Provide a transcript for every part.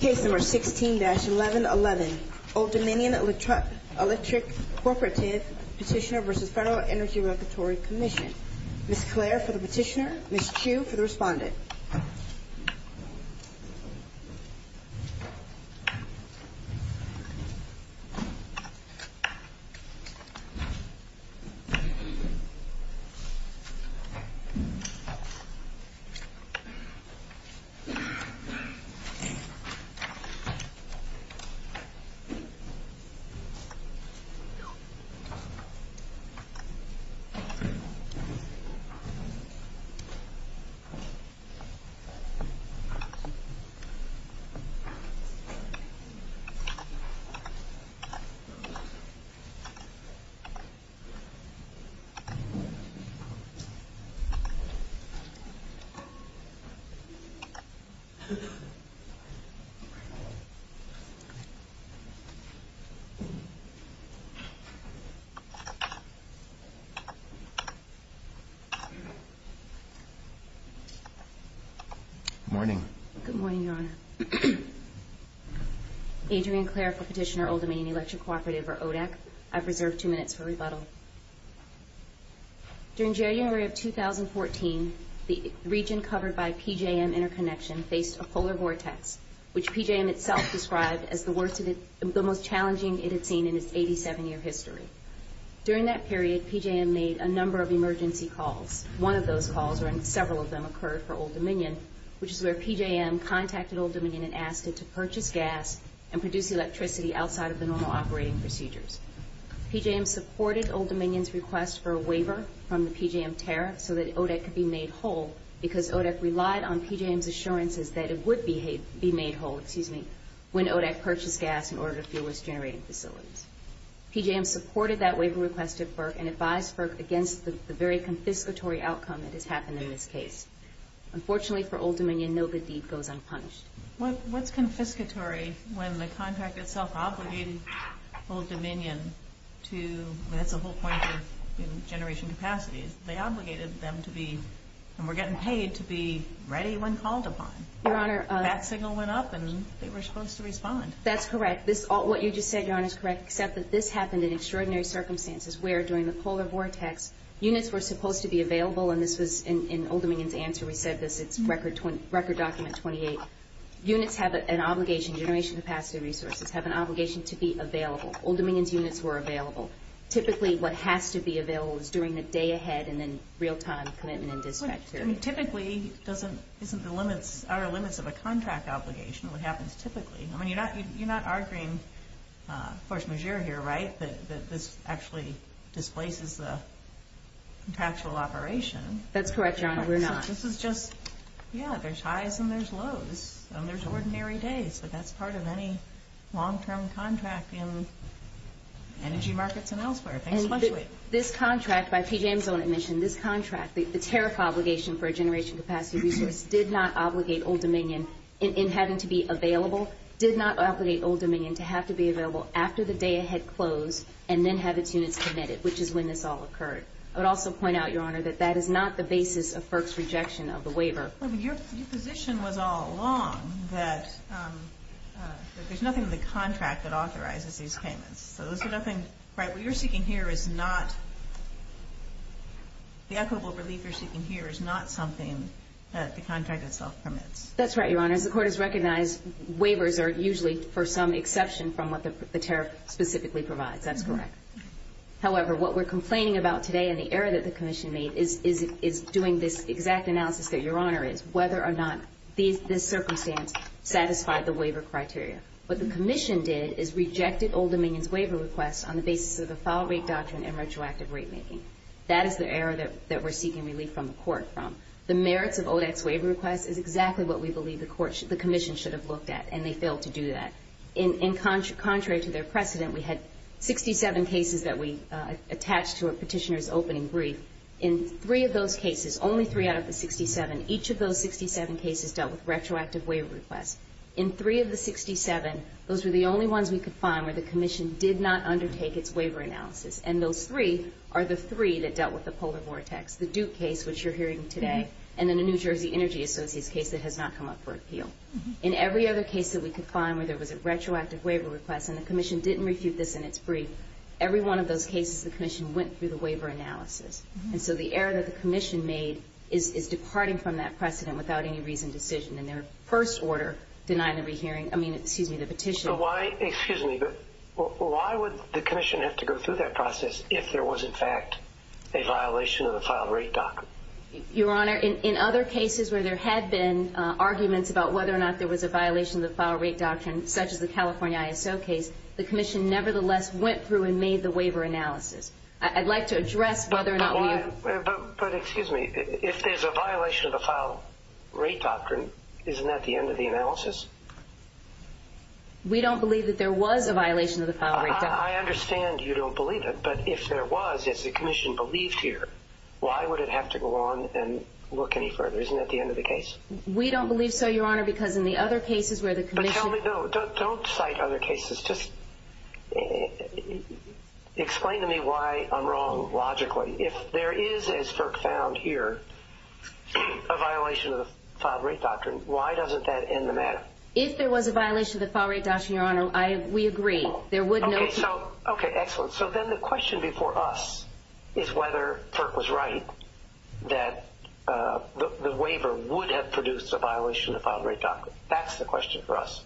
Case No. 16-1111 Old Dominion Electric Coop v. FERC Ms. Clare for the petitioner, Ms. Chu for the respondent Ms. Clare for the petitioner, Ms. Chu for the respondent Good morning. Good morning, Your Honor. Adrian Clare for Petitioner Old Dominion Electric Cooperative v. ODAC. I've reserved two minutes for rebuttal. During January of 2014, the region covered by PJM Interconnection faced a polar vortex, which PJM itself described as the most challenging it had seen in its 87-year history. During that period, PJM made a number of emergency calls. One of those calls, or several of them, occurred for Old Dominion, which is where PJM contacted Old Dominion and asked it to purchase gas and produce electricity outside of the normal operating procedures. PJM supported Old Dominion's request for a waiver from the PJM tariff so that ODAC could be made whole because ODAC relied on PJM's assurances that it would be made whole when ODAC purchased gas in order to fuel its generating facilities. PJM supported that waiver request at FERC and advised FERC against the very confiscatory outcome that has happened in this case. Unfortunately for Old Dominion, no good deed goes unpunished. What's confiscatory when the contract itself Old Dominion to, that's the whole point of generation capacities. They obligated them to be, and were getting paid to be ready when called upon. That signal went up and they were supposed to respond. That's correct. What you just said, Your Honor, is correct, except that this happened in extraordinary circumstances where during the polar vortex units were supposed to be available, and this was in Old Dominion's answer, we said this, it's record document 28. Units have an obligation, generation capacity resources, have an obligation to be available. Old Dominion's units were available. Typically what has to be available is during the day ahead and then real time commitment and dispatch period. Typically isn't the limits, are limits of a contract obligation, what happens typically. I mean, you're not arguing force majeure here, right, that this actually displaces the contractual operation. That's correct, Your Honor, we're not. This is just, yeah, there's highs and there's lows, and there's ordinary days, but that's part of any long-term contract in energy markets and elsewhere. And this contract, by PJM's own admission, this contract, the tariff obligation for a generation capacity resource did not obligate Old Dominion in having to be available, did not obligate Old Dominion to have to be available after the day had closed and then have its units committed, which is when this all occurred. I would also point out, Your Honor, that that is not the basis of FERC's rejection of the waiver. Well, but your position was all along that there's nothing in the contract that authorizes these payments. So those are nothing, right, what you're seeking here is not, the equitable relief you're seeking here is not something that the contract itself permits. That's right, Your Honor. As the Court has recognized, waivers are usually for some exception from what the tariff specifically provides. That's correct. However, what we're doing is doing this exact analysis that Your Honor is, whether or not this circumstance satisfied the waiver criteria. What the Commission did is rejected Old Dominion's waiver request on the basis of the file rate doctrine and retroactive rate making. That is the error that we're seeking relief from the Court from. The merits of ODEX waiver requests is exactly what we believe the Commission should have looked at, and they failed to do that. Contrary to their precedent, we had 67 cases that we attached to a petitioner's opening brief. In three of those cases, only three out of the 67, each of those 67 cases dealt with retroactive waiver requests. In three of the 67, those were the only ones we could find where the Commission did not undertake its waiver analysis, and those three are the three that dealt with the polar vortex, the Duke case, which you're hearing today, and then the New Jersey Energy Associates case that has not come up for appeal. In every other case that we could find where there was a retroactive waiver request and the Commission didn't refute this in its brief, every one of those cases the Commission went through the waiver analysis. And so the error that the Commission made is departing from that precedent without any reasoned decision. In their first order, denying the re-hearing – I mean, excuse me, the petition – So why – excuse me, but why would the Commission have to go through that process if there was, in fact, a violation of the file rate doctrine? Your Honor, in other cases where there had been arguments about whether or not there was a violation of the file rate doctrine, such as the California ISO case, the Commission nevertheless went through and made the waiver analysis. I'd like to address whether or not – But, excuse me, if there's a violation of the file rate doctrine, isn't that the end of the analysis? We don't believe that there was a violation of the file rate doctrine. I understand you don't believe it, but if there was, if the Commission believed here, why would it have to go on and look any further? Isn't that the end of the case? We don't believe so, Your Honor, because in the other cases where the Commission – Explain to me why I'm wrong, logically. If there is, as FERC found here, a violation of the file rate doctrine, why doesn't that end the matter? If there was a violation of the file rate doctrine, Your Honor, we agree, there would no – Okay, so – okay, excellent. So then the question before us is whether FERC was right that the waiver would have produced a violation of the file rate doctrine. That's the question for us.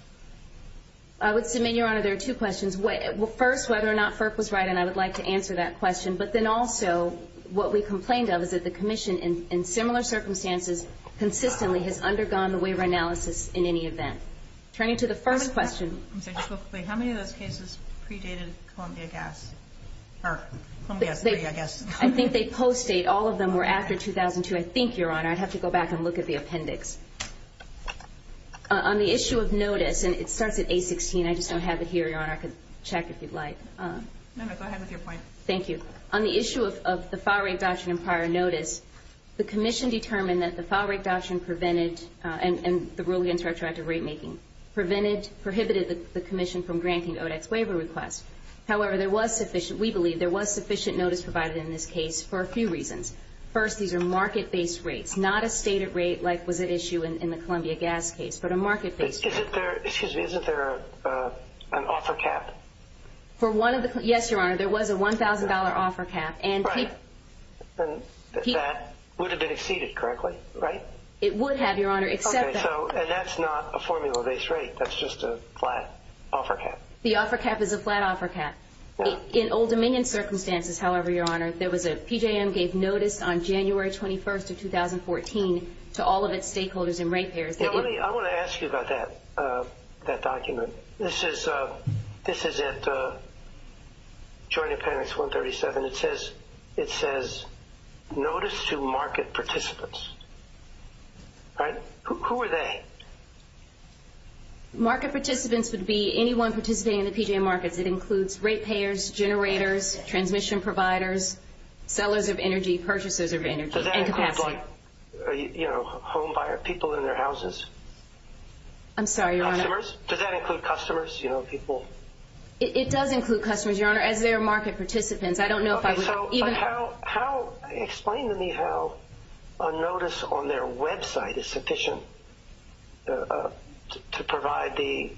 I would submit, Your Honor, there are two questions. First, whether or not FERC was right, and I would like to answer that question. But then also, what we complained of is that the Commission, in similar circumstances, consistently has undergone the waiver analysis in any event. Turning to the first question – I'm sorry, just real quickly. How many of those cases predated Columbia Gas? Or, Columbia S3, I guess. I think they post-date. All of them were after 2002, I think, Your Honor. I'd have to go back and look at the appendix. On the issue of notice – and it starts at A16. I just don't have it here, Your Honor. I could check if you'd like. No, no. Go ahead with your point. Thank you. On the issue of the file rate doctrine and prior notice, the Commission determined that the file rate doctrine prevented – and the rulings are attracted to rate-making – prevented – prohibited the Commission from granting ODEX waiver requests. However, there was sufficient – we believe there was sufficient notice provided in this case for a few reasons. First, these are market-based rates, not a stated rate like was at issue in the Columbia Gas case, but a market-based rate. Excuse me. Isn't there an offer cap? For one of the – yes, Your Honor. There was a $1,000 offer cap. Right. And that would have been exceeded correctly, right? It would have, Your Honor, except that – Okay. So – and that's not a formula-based rate. That's just a flat offer cap. The offer cap is a flat offer cap. Yeah. In Old Dominion circumstances, however, Your Honor, there was a – PJM gave notice on January 21st of 2014 to all of its stakeholders and rate payers. Now, let me – I want to ask you about that – that document. This is – this is at Joint Appendix 137. It says – it says, Notice to Market Participants. Right? Who are they? Market participants would be anyone participating in the PJM markets. It includes rate payers, generators, transmission providers, sellers of energy, purchasers of energy, and capacity. Does that include, like, you know, home buyer – people in their houses? I'm sorry, Your Honor. Customers? Does that include customers? You know, people – It does include customers, Your Honor, as they are market participants. I don't know if I would – Okay. So how – explain to me how a notice on their website is sufficient to provide the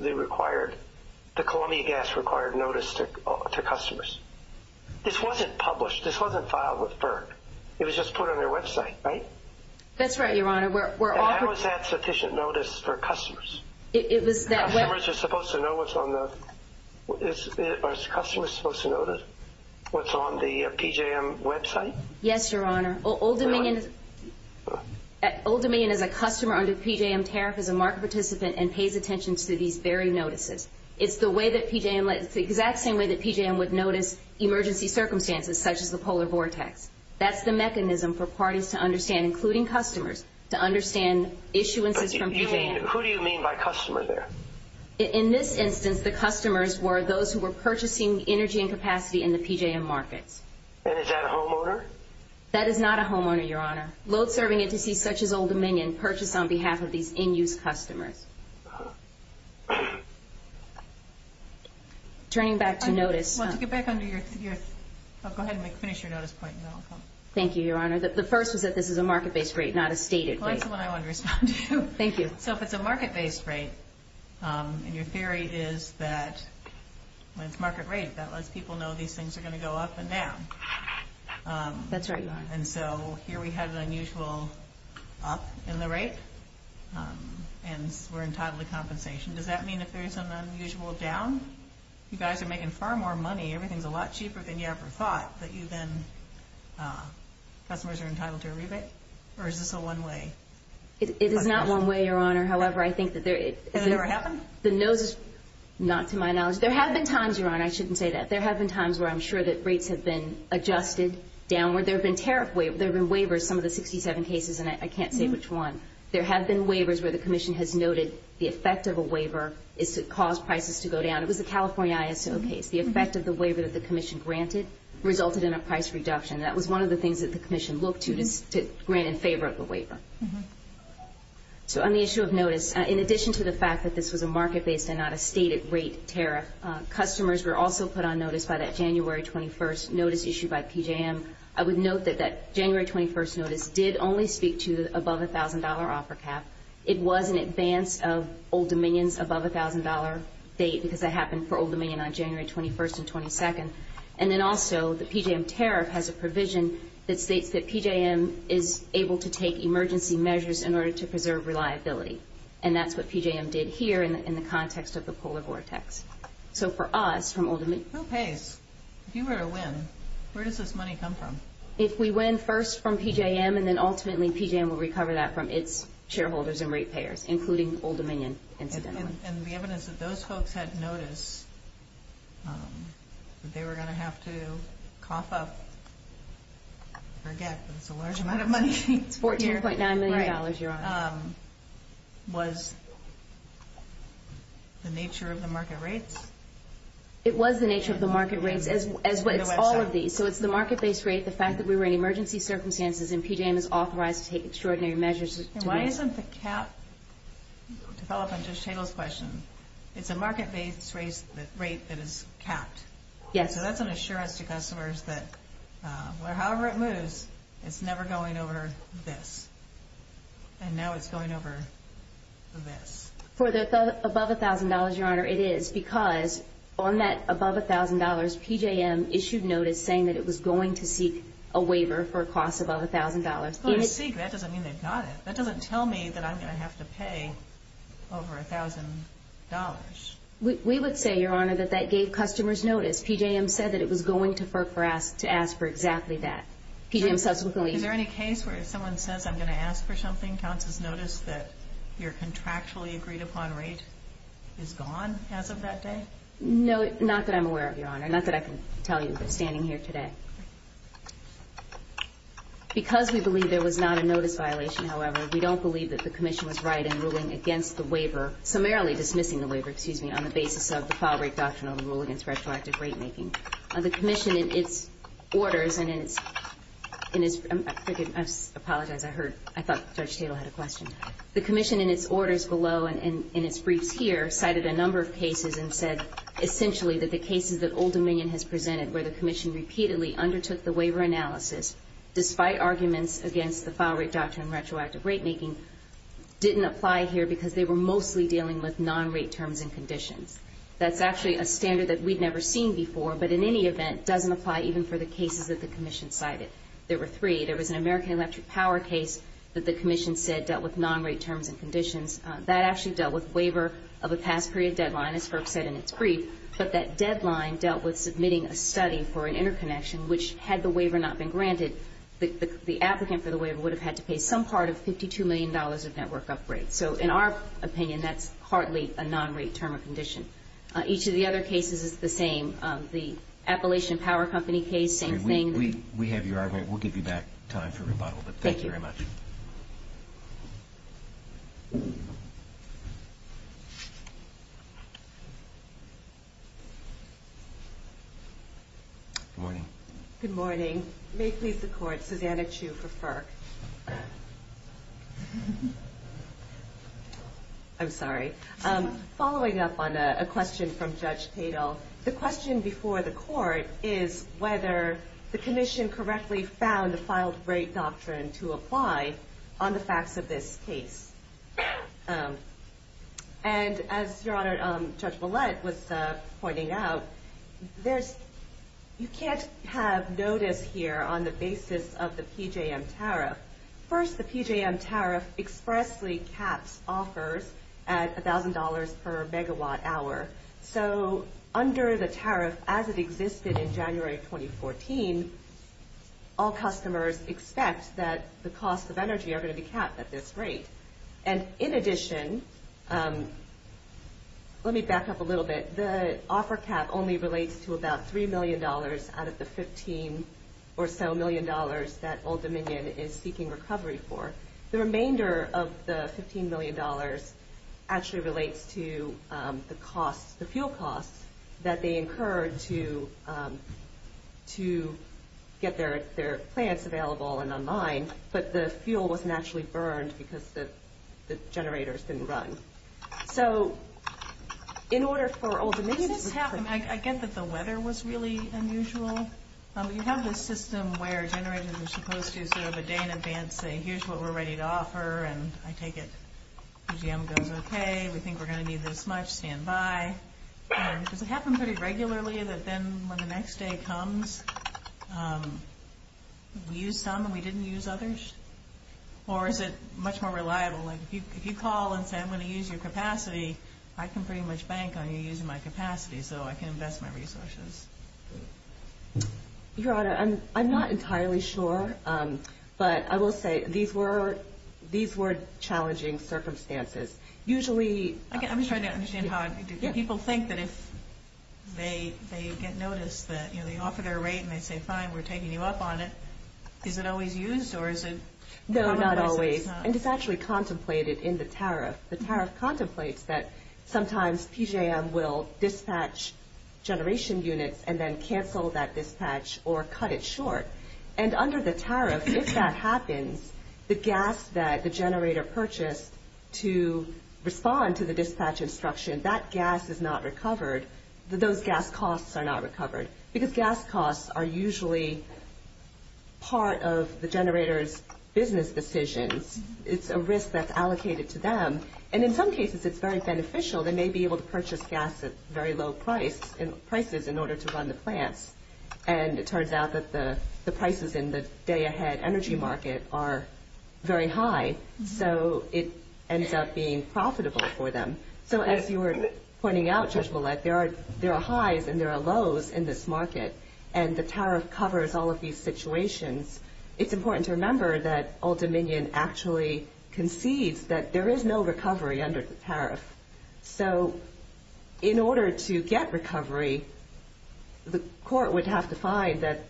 required – the Columbia Gas required notice to customers. This wasn't published. This wasn't filed with BERG. It was just put on their website, right? That's right, Your Honor. We're offering – How is that sufficient notice for customers? It was that – Customers are supposed to know what's on the – is – are customers supposed to know what's on the PJM website? Yes, Your Honor. Old Dominion – What? Old Dominion is a customer under PJM tariff, is a market participant, and pays attention to these BERG notices. It's the way that PJM – it's the exact same way that PJM would notice emergency circumstances, such as the polar vortex. That's the mechanism for parties to understand, including customers, to understand issuances from PJM – But do you mean – who do you mean by customer there? In this instance, the customers were those who were purchasing energy and capacity in the PJM markets. And is that a homeowner? That is not a homeowner, Your Honor. Load-serving entities such as Old Dominion purchase on behalf of these in-use customers. Turning back to notice – I want to get back under your – I'll go ahead and finish your notice point, and then I'll come. Thank you, Your Honor. The first was that this is a market-based rate, not a stated rate. Well, that's the one I wanted to respond to. Thank you. So if it's a market-based rate, and your theory is that – That's right, Your Honor. And so here we have an unusual up in the rate, and we're entitled to compensation. Does that mean if there's an unusual down, you guys are making far more money, everything's a lot cheaper than you ever thought, that you then – customers are entitled to a rebate? Or is this a one-way? It is not one-way, Your Honor. However, I think that there is – Has it ever happened? The nose is – not to my knowledge. There have been times, Your Honor – I shouldn't say that. There have been times where I'm sure that rates have been adjusted downward. There have been tariff – there have been waivers, some of the 67 cases, and I can't say which one. There have been waivers where the Commission has noted the effect of a waiver is to cause prices to go down. It was the California ISO case. The effect of the waiver that the Commission granted resulted in a price reduction. That was one of the things that the Commission looked to, to grant in favor of the waiver. So on the issue of notice, in addition to the fact that this was a market-based and not a stated rate tariff, customers were also put on notice by that January 21st notice issued by PJM. I would note that that January 21st notice did only speak to above-a-thousand-dollar offer cap. It was in advance of Old Dominion's above-a-thousand-dollar date because that happened for Old Dominion on January 21st and 22nd. And then also the PJM tariff has a provision that states that PJM is able to take emergency measures in order to preserve reliability. And that's what PJM did here in the context of the polar vortex. So for us, from Old Dominion... Who pays? If you were to win, where does this money come from? If we win first from PJM, and then ultimately PJM will recover that from its shareholders and rate payers, including Old Dominion incidentally. And the evidence that those folks had notice that they were going to have to cough up... I forget, but it's a large amount of money. It's $14.9 million, Your Honor. Was the nature of the market rates? It was the nature of the market rates. It's all of these. So it's the market-based rate, the fact that we were in emergency circumstances, and PJM is authorized to take extraordinary measures. Why isn't the cap... To follow up on Judge Tatel's question, it's a market-based rate that is capped. Yes. So that's an assurance to customers that however it moves, it's never going over this. And now it's going over this. For the above $1,000, Your Honor, it is because on that above $1,000, PJM issued notice saying that it was going to seek a waiver for a cost above $1,000. Well, to seek, that doesn't mean they've got it. That doesn't tell me that I'm going to have to pay over $1,000. We would say, Your Honor, that that gave customers notice. PJM said that it was going to ask for exactly that. PJM subsequently... Was it going to ask for something? Counsel's notice that your contractually agreed-upon rate is gone as of that day? No, not that I'm aware of, Your Honor. Not that I can tell you, but standing here today. Because we believe there was not a notice violation, however, we don't believe that the Commission was right in ruling against the waiver, summarily dismissing the waiver, excuse me, on the basis of the file-break doctrine of the rule against retroactive rate-making. The Commission, in its orders and in its... I apologize, I thought Judge Tatel had a question. The Commission, in its orders below and in its briefs here, cited a number of cases and said, essentially, that the cases that Old Dominion has presented where the Commission repeatedly undertook the waiver analysis, despite arguments against the file-break doctrine of retroactive rate-making, didn't apply here because they were mostly dealing with non-rate terms and conditions. That's actually a standard that we'd never seen before, but in any event, doesn't apply even for the cases that the Commission cited. There were three. There was an American Electric Power case that the Commission said dealt with non-rate terms and conditions. That actually dealt with waiver of a past period deadline, as FERC said in its brief, but that deadline dealt with submitting a study for an interconnection, which, had the waiver not been granted, the applicant for the waiver would have had to pay some part of $52 million of network upgrades. So, in our opinion, that's hardly a non-rate term or condition. Each of the other cases is the same. The Appalachian Power Company case, same thing. We have your argument. We'll give you back time for rebuttal, but thank you very much. Thank you. Good morning. Good morning. May it please the Court, Susanna Chu for FERC. I'm sorry. Following up on a question from Judge Tatel, the question before the Court is whether the Commission correctly found the filed-rate doctrine to apply on the facts of this case. And, as Judge Ouellette was pointing out, you can't have notice here on the basis of the PJM tariff. First, the PJM tariff expressly caps offers at $1,000 per megawatt hour. So, under the tariff, as it existed in January 2014, all customers expect that the costs of energy are going to be capped at this rate. And, in addition, let me back up a little bit. The offer cap only relates to about $3 million out of the $15 or so million that Old Dominion is seeking recovery for. The remainder of the $15 million actually relates to the fuel costs that they incurred to get their plants available and online, but the fuel wasn't actually burned because the generators didn't run. I get that the weather was really unusual. You have this system where generators are supposed to, sort of, a day in advance say, here's what we're ready to offer, and I take it PJM goes, okay, we think we're going to need this much, stand by. Does it happen pretty regularly that then, when the next day comes, we use some and we didn't use others? Or is it much more reliable? Like, if you call and say, I'm going to use your capacity, I can pretty much bank on you using my capacity so I can invest my resources. Your Honor, I'm not entirely sure, but I will say these were challenging circumstances. Usually... I'm just trying to understand how people think that if they get noticed that they offer their rate and they say, fine, we're taking you up on it, is it always used or is it... No, not always, and it's actually contemplated in the tariff. The tariff contemplates that sometimes PJM will dispatch generation units and then cancel that dispatch or cut it short. And under the tariff, if that happens, the gas that the generator purchased to respond to the dispatch instruction, that gas is not recovered, those gas costs are not recovered. Because gas costs are usually part of the generator's business decisions. It's a risk that's allocated to them. And in some cases, it's very beneficial. They may be able to purchase gas at very low prices in order to run the plants. And it turns out that the prices in the day-ahead energy market are very high. So it ends up being profitable for them. So as you were pointing out, Judge Ouellette, there are highs and there are lows in this market. And the tariff covers all of these situations. It's important to remember that Old Dominion actually concedes that there is no recovery under the tariff. So in order to get recovery, the court would have to find that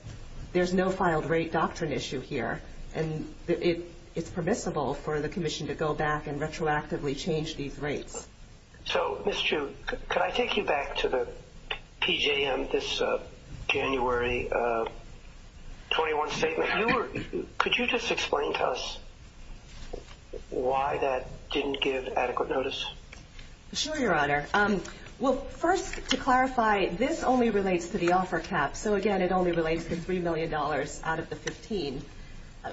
there's no filed rate doctrine issue here. And it's permissible for the commission to go back and retroactively change these rates. So, Ms. Chu, could I take you back to the PJM, this January 21 statement? Could you just explain to us why that didn't give adequate notice? Sure, Your Honor. Well, first, to clarify, this only relates to the offer cap. So, again, it only relates to $3 million out of the 15.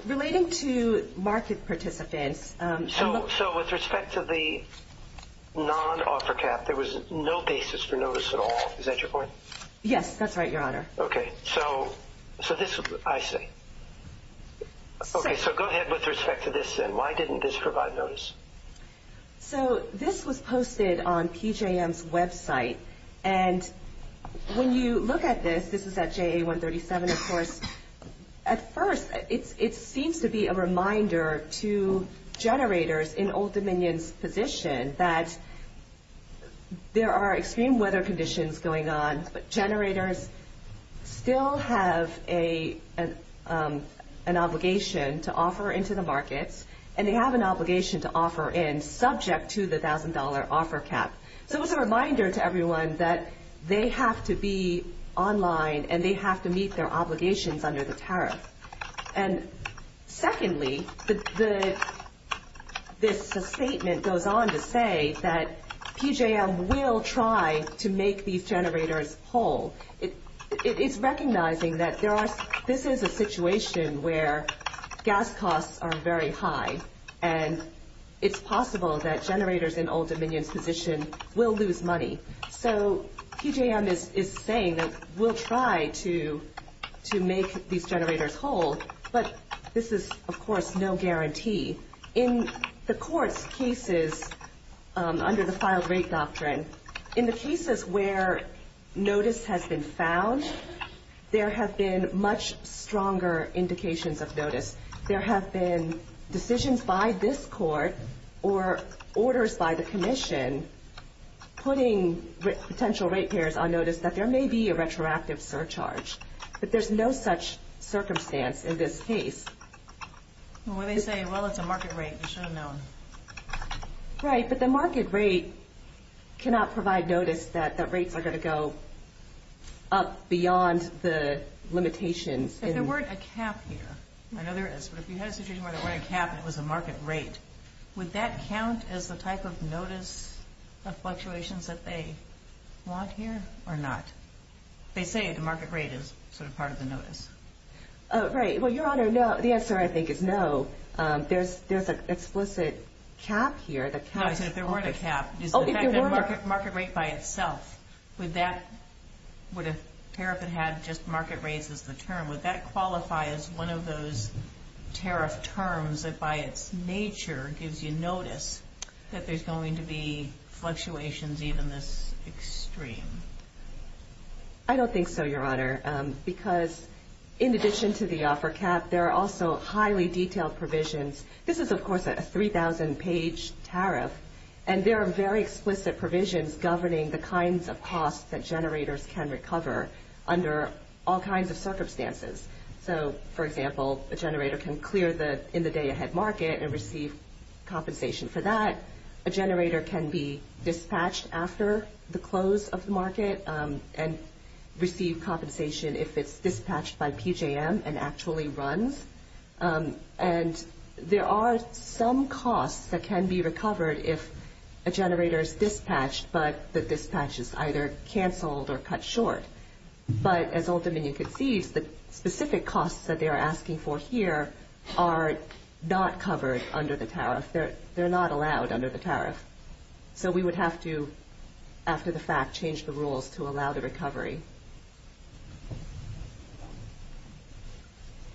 Relating to market participants. So with respect to the non-offer cap, there was no basis for notice at all. Is that your point? Yes, that's right, Your Honor. Okay. So this is what I see. Okay, so go ahead with respect to this, then. Why didn't this provide notice? So this was posted on PJM's website. And when you look at this, this is at JA 137, of course. At first, it seems to be a reminder to generators in Old Dominion's position that there are extreme weather conditions going on, but generators still have an obligation to offer into the markets, and they have an obligation to offer in subject to the $1,000 offer cap. So it's a reminder to everyone that they have to be online and they have to meet their obligations under the tariff. And secondly, this statement goes on to say that PJM will try to make these generators whole. It's recognizing that this is a situation where gas costs are very high, and it's possible that generators in Old Dominion's position will lose money. So PJM is saying that we'll try to make these generators whole, but this is, of course, no guarantee. In the Court's cases under the filed-rate doctrine, in the cases where notice has been found, there have been much stronger indications of notice. There have been decisions by this Court or orders by the Commission putting potential rate payers on notice that there may be a retroactive surcharge, but there's no such circumstance in this case. Well, when they say, well, it's a market rate, you should have known. Right, but the market rate cannot provide notice that rates are going to go up beyond the limitations. If there weren't a cap here, I know there is, but if you had a situation where there weren't a cap and it was a market rate, would that count as the type of notice of fluctuations that they want here or not? They say the market rate is sort of part of the notice. Right, well, Your Honor, no. The answer, I think, is no. There's an explicit cap here. No, I said if there weren't a cap. Oh, if there weren't a cap. Is the fact that market rate by itself, would a tariff that had just market rates as the term, would that qualify as one of those tariff terms that by its nature gives you notice that there's going to be fluctuations even this extreme? I don't think so, Your Honor, because in addition to the offer cap, there are also highly detailed provisions. This is, of course, a 3,000-page tariff, and there are very explicit provisions governing the kinds of costs that generators can recover under all kinds of circumstances. So, for example, a generator can clear the in-the-day-ahead market and receive compensation for that. A generator can be dispatched after the close of the market and receive compensation if it's dispatched by PJM and actually runs. And there are some costs that can be recovered if a generator is dispatched, but the dispatch is either canceled or cut short. But as Old Dominion concedes, the specific costs that they are asking for here are not covered under the tariff. They're not allowed under the tariff. So we would have to, after the fact, change the rules to allow the recovery.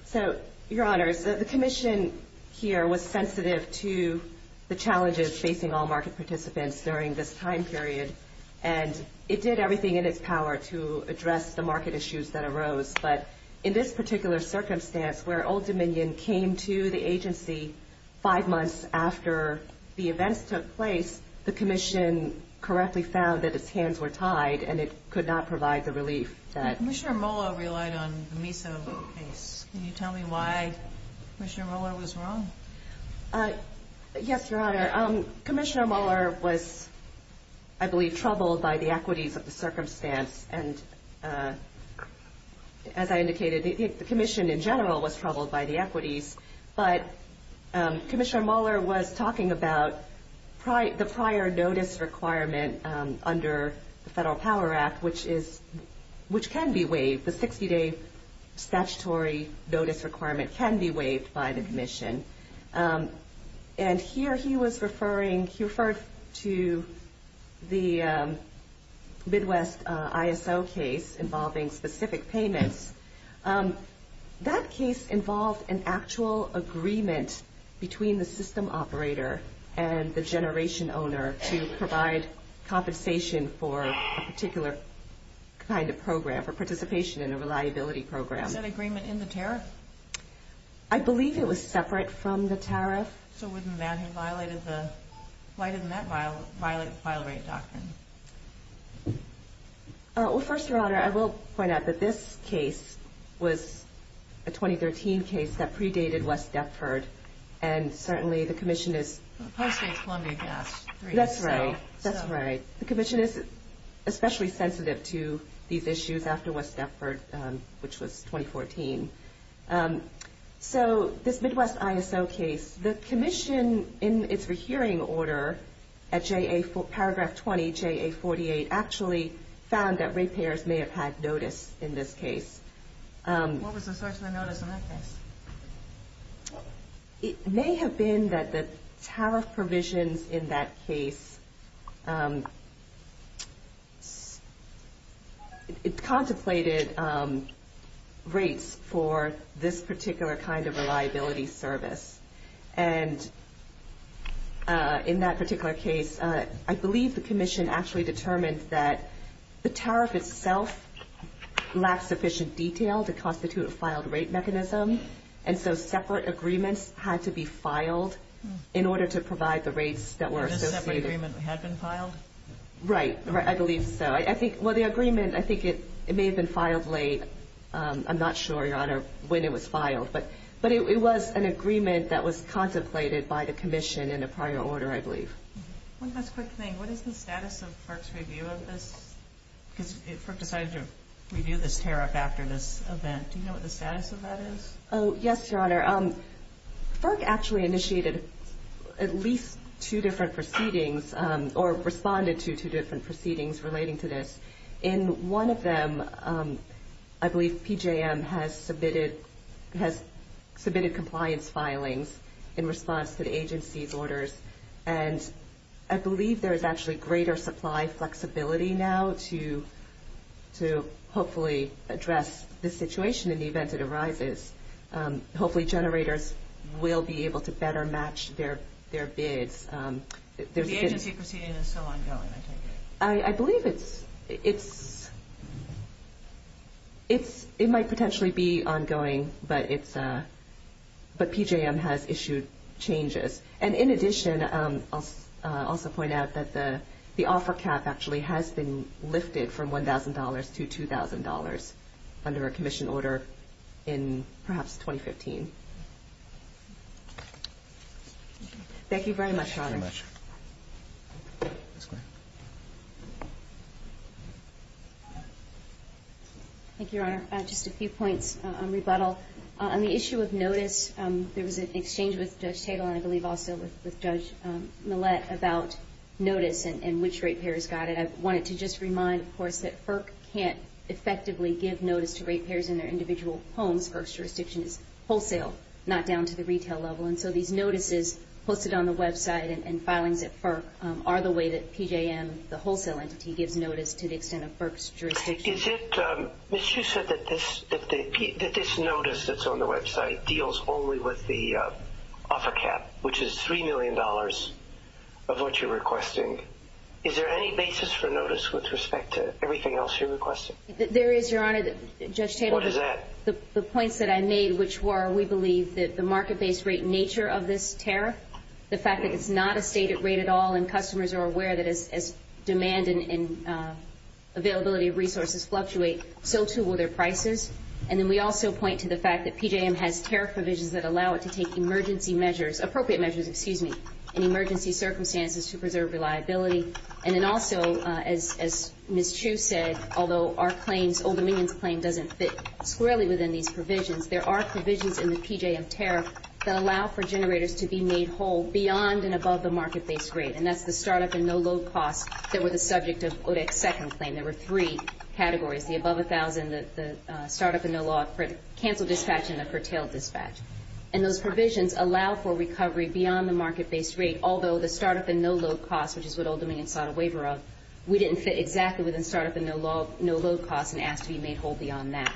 So, Your Honor, the Commission here was sensitive to the challenges facing all market participants during this time period, and it did everything in its power to address the market issues that arose. But in this particular circumstance where Old Dominion came to the agency five months after the events took place, and it could not provide the relief that... Commissioner Moller relied on the MISA case. Can you tell me why Commissioner Moller was wrong? Yes, Your Honor. Commissioner Moller was, I believe, troubled by the equities of the circumstance. And as I indicated, the Commission in general was troubled by the equities. But Commissioner Moller was talking about the prior notice requirement under the Federal Power Act, which can be waived, the 60-day statutory notice requirement can be waived by the Commission. And here he was referring, he referred to the Midwest ISO case involving specific payments. That case involved an actual agreement between the system operator and the generation owner to provide compensation for a particular kind of program, for participation in a reliability program. Was that agreement in the tariff? I believe it was separate from the tariff. So, within that, he violated the... Why didn't that violate the file rate doctrine? Well, first, Your Honor, I will point out that this case was a 2013 case that predated West Deptford. And certainly, the Commission is... Probably State of Columbia passed three years ago. That's right. That's right. The Commission is especially sensitive to these issues after West Deptford, which was 2014. So, this Midwest ISO case, the Commission, in its rehearing order at paragraph 20, HAA48, actually found that rate payers may have had notice in this case. What was the source of the notice in that case? It may have been that the tariff provisions in that case contemplated rates for this particular kind of reliability service. And in that particular case, I believe the Commission actually determined that the tariff itself lacked sufficient detail to constitute a filed rate mechanism. And so, separate agreements had to be filed in order to provide the rates that were associated. And this separate agreement had been filed? Right. I believe so. Well, the agreement, I think it may have been filed late. I'm not sure, Your Honor, when it was filed. But it was an agreement that was contemplated by the Commission in a prior order, I believe. One last quick thing. What is the status of FERC's review of this? Because FERC decided to review this tariff after this event. Do you know what the status of that is? Oh, yes, Your Honor. FERC actually initiated at least two different proceedings or responded to two different proceedings relating to this. In one of them, I believe PJM has submitted compliance filings in response to the agency's orders. And I believe there is actually greater supply flexibility now to hopefully address this situation in the event it arises. Hopefully, generators will be able to better match their bids. The agency proceeding is so ongoing, I take it? I believe it might potentially be ongoing, but PJM has issued changes. And in addition, I'll also point out that the offer cap actually has been lifted from $1,000 to $2,000 under a Commission order in perhaps 2015. Thank you very much. Thank you, Your Honor. Just a few points on rebuttal. On the issue of notice, there was an exchange with Judge Tatel and I believe also with Judge Millett about notice and which rate payers got it. I wanted to just remind, of course, that FERC can't effectively give notice to rate payers in their individual homes. FERC's jurisdiction is wholesale, not down to the retail level. And so these notices posted on the website and filings at FERC are the way that PJM, the wholesale entity, gives notice to the extent of FERC's jurisdiction. Ms. Hsu said that this notice that's on the website deals only with the offer cap, which is $3 million of what you're requesting. Is there any basis for notice with respect to everything else you're requesting? There is, Your Honor. What is that? The points that I made, which were we believe that the market-based rate nature of this tariff, the fact that it's not a stated rate at all and customers are aware that as demand and availability of resources fluctuate, so too will their prices. And then we also point to the fact that PJM has tariff provisions that allow it to take emergency measures, appropriate measures, excuse me, in emergency circumstances to preserve reliability. And then also, as Ms. Hsu said, although our claims, Old Dominion's claim, doesn't fit squarely within these provisions, there are provisions in the PJM tariff that allow for generators to be made whole beyond and above the market-based rate, and that's the start-up and no-load costs that were the subject of OREC's second claim. There were three categories, the above-a-thousand, the start-up and no-load, the cancel dispatch, and the curtail dispatch. And those provisions allow for recovery beyond the market-based rate, although the start-up and no-load costs, which is what Old Dominion sought a waiver of, we didn't fit exactly within start-up and no-load costs and asked to be made whole beyond that.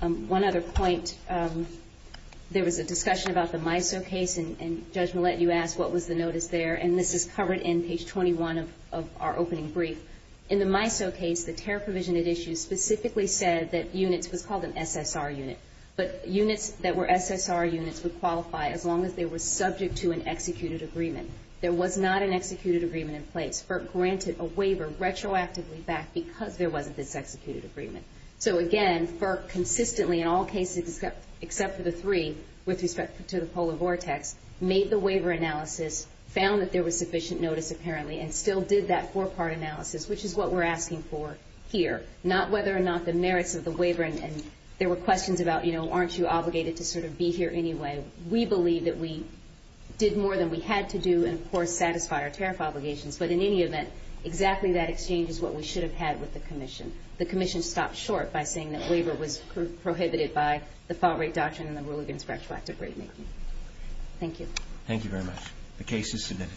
One other point, there was a discussion about the MISO case, and Judge Millett, you asked what was the notice there, and this is covered in page 21 of our opening brief. In the MISO case, the tariff provision it issues specifically said that units, it was called an SSR unit, but units that were SSR units would qualify as long as they were subject to an executed agreement. There was not an executed agreement in place. FERC granted a waiver retroactively back because there wasn't this executed agreement. So again, FERC consistently, in all cases except for the three with respect to the polar vortex, made the waiver analysis, found that there was sufficient notice apparently, and still did that four-part analysis, which is what we're asking for here, not whether or not the merits of the waiver, and there were questions about, you know, aren't you obligated to sort of be here anyway? We believe that we did more than we had to do and, of course, satisfy our tariff obligations, but in any event, exactly that exchange is what we should have had with the Commission. The Commission stopped short by saying that waiver was prohibited by the fault rate doctrine and the Rule Against Retroactive Rate Making. Thank you. Thank you very much. The case is submitted.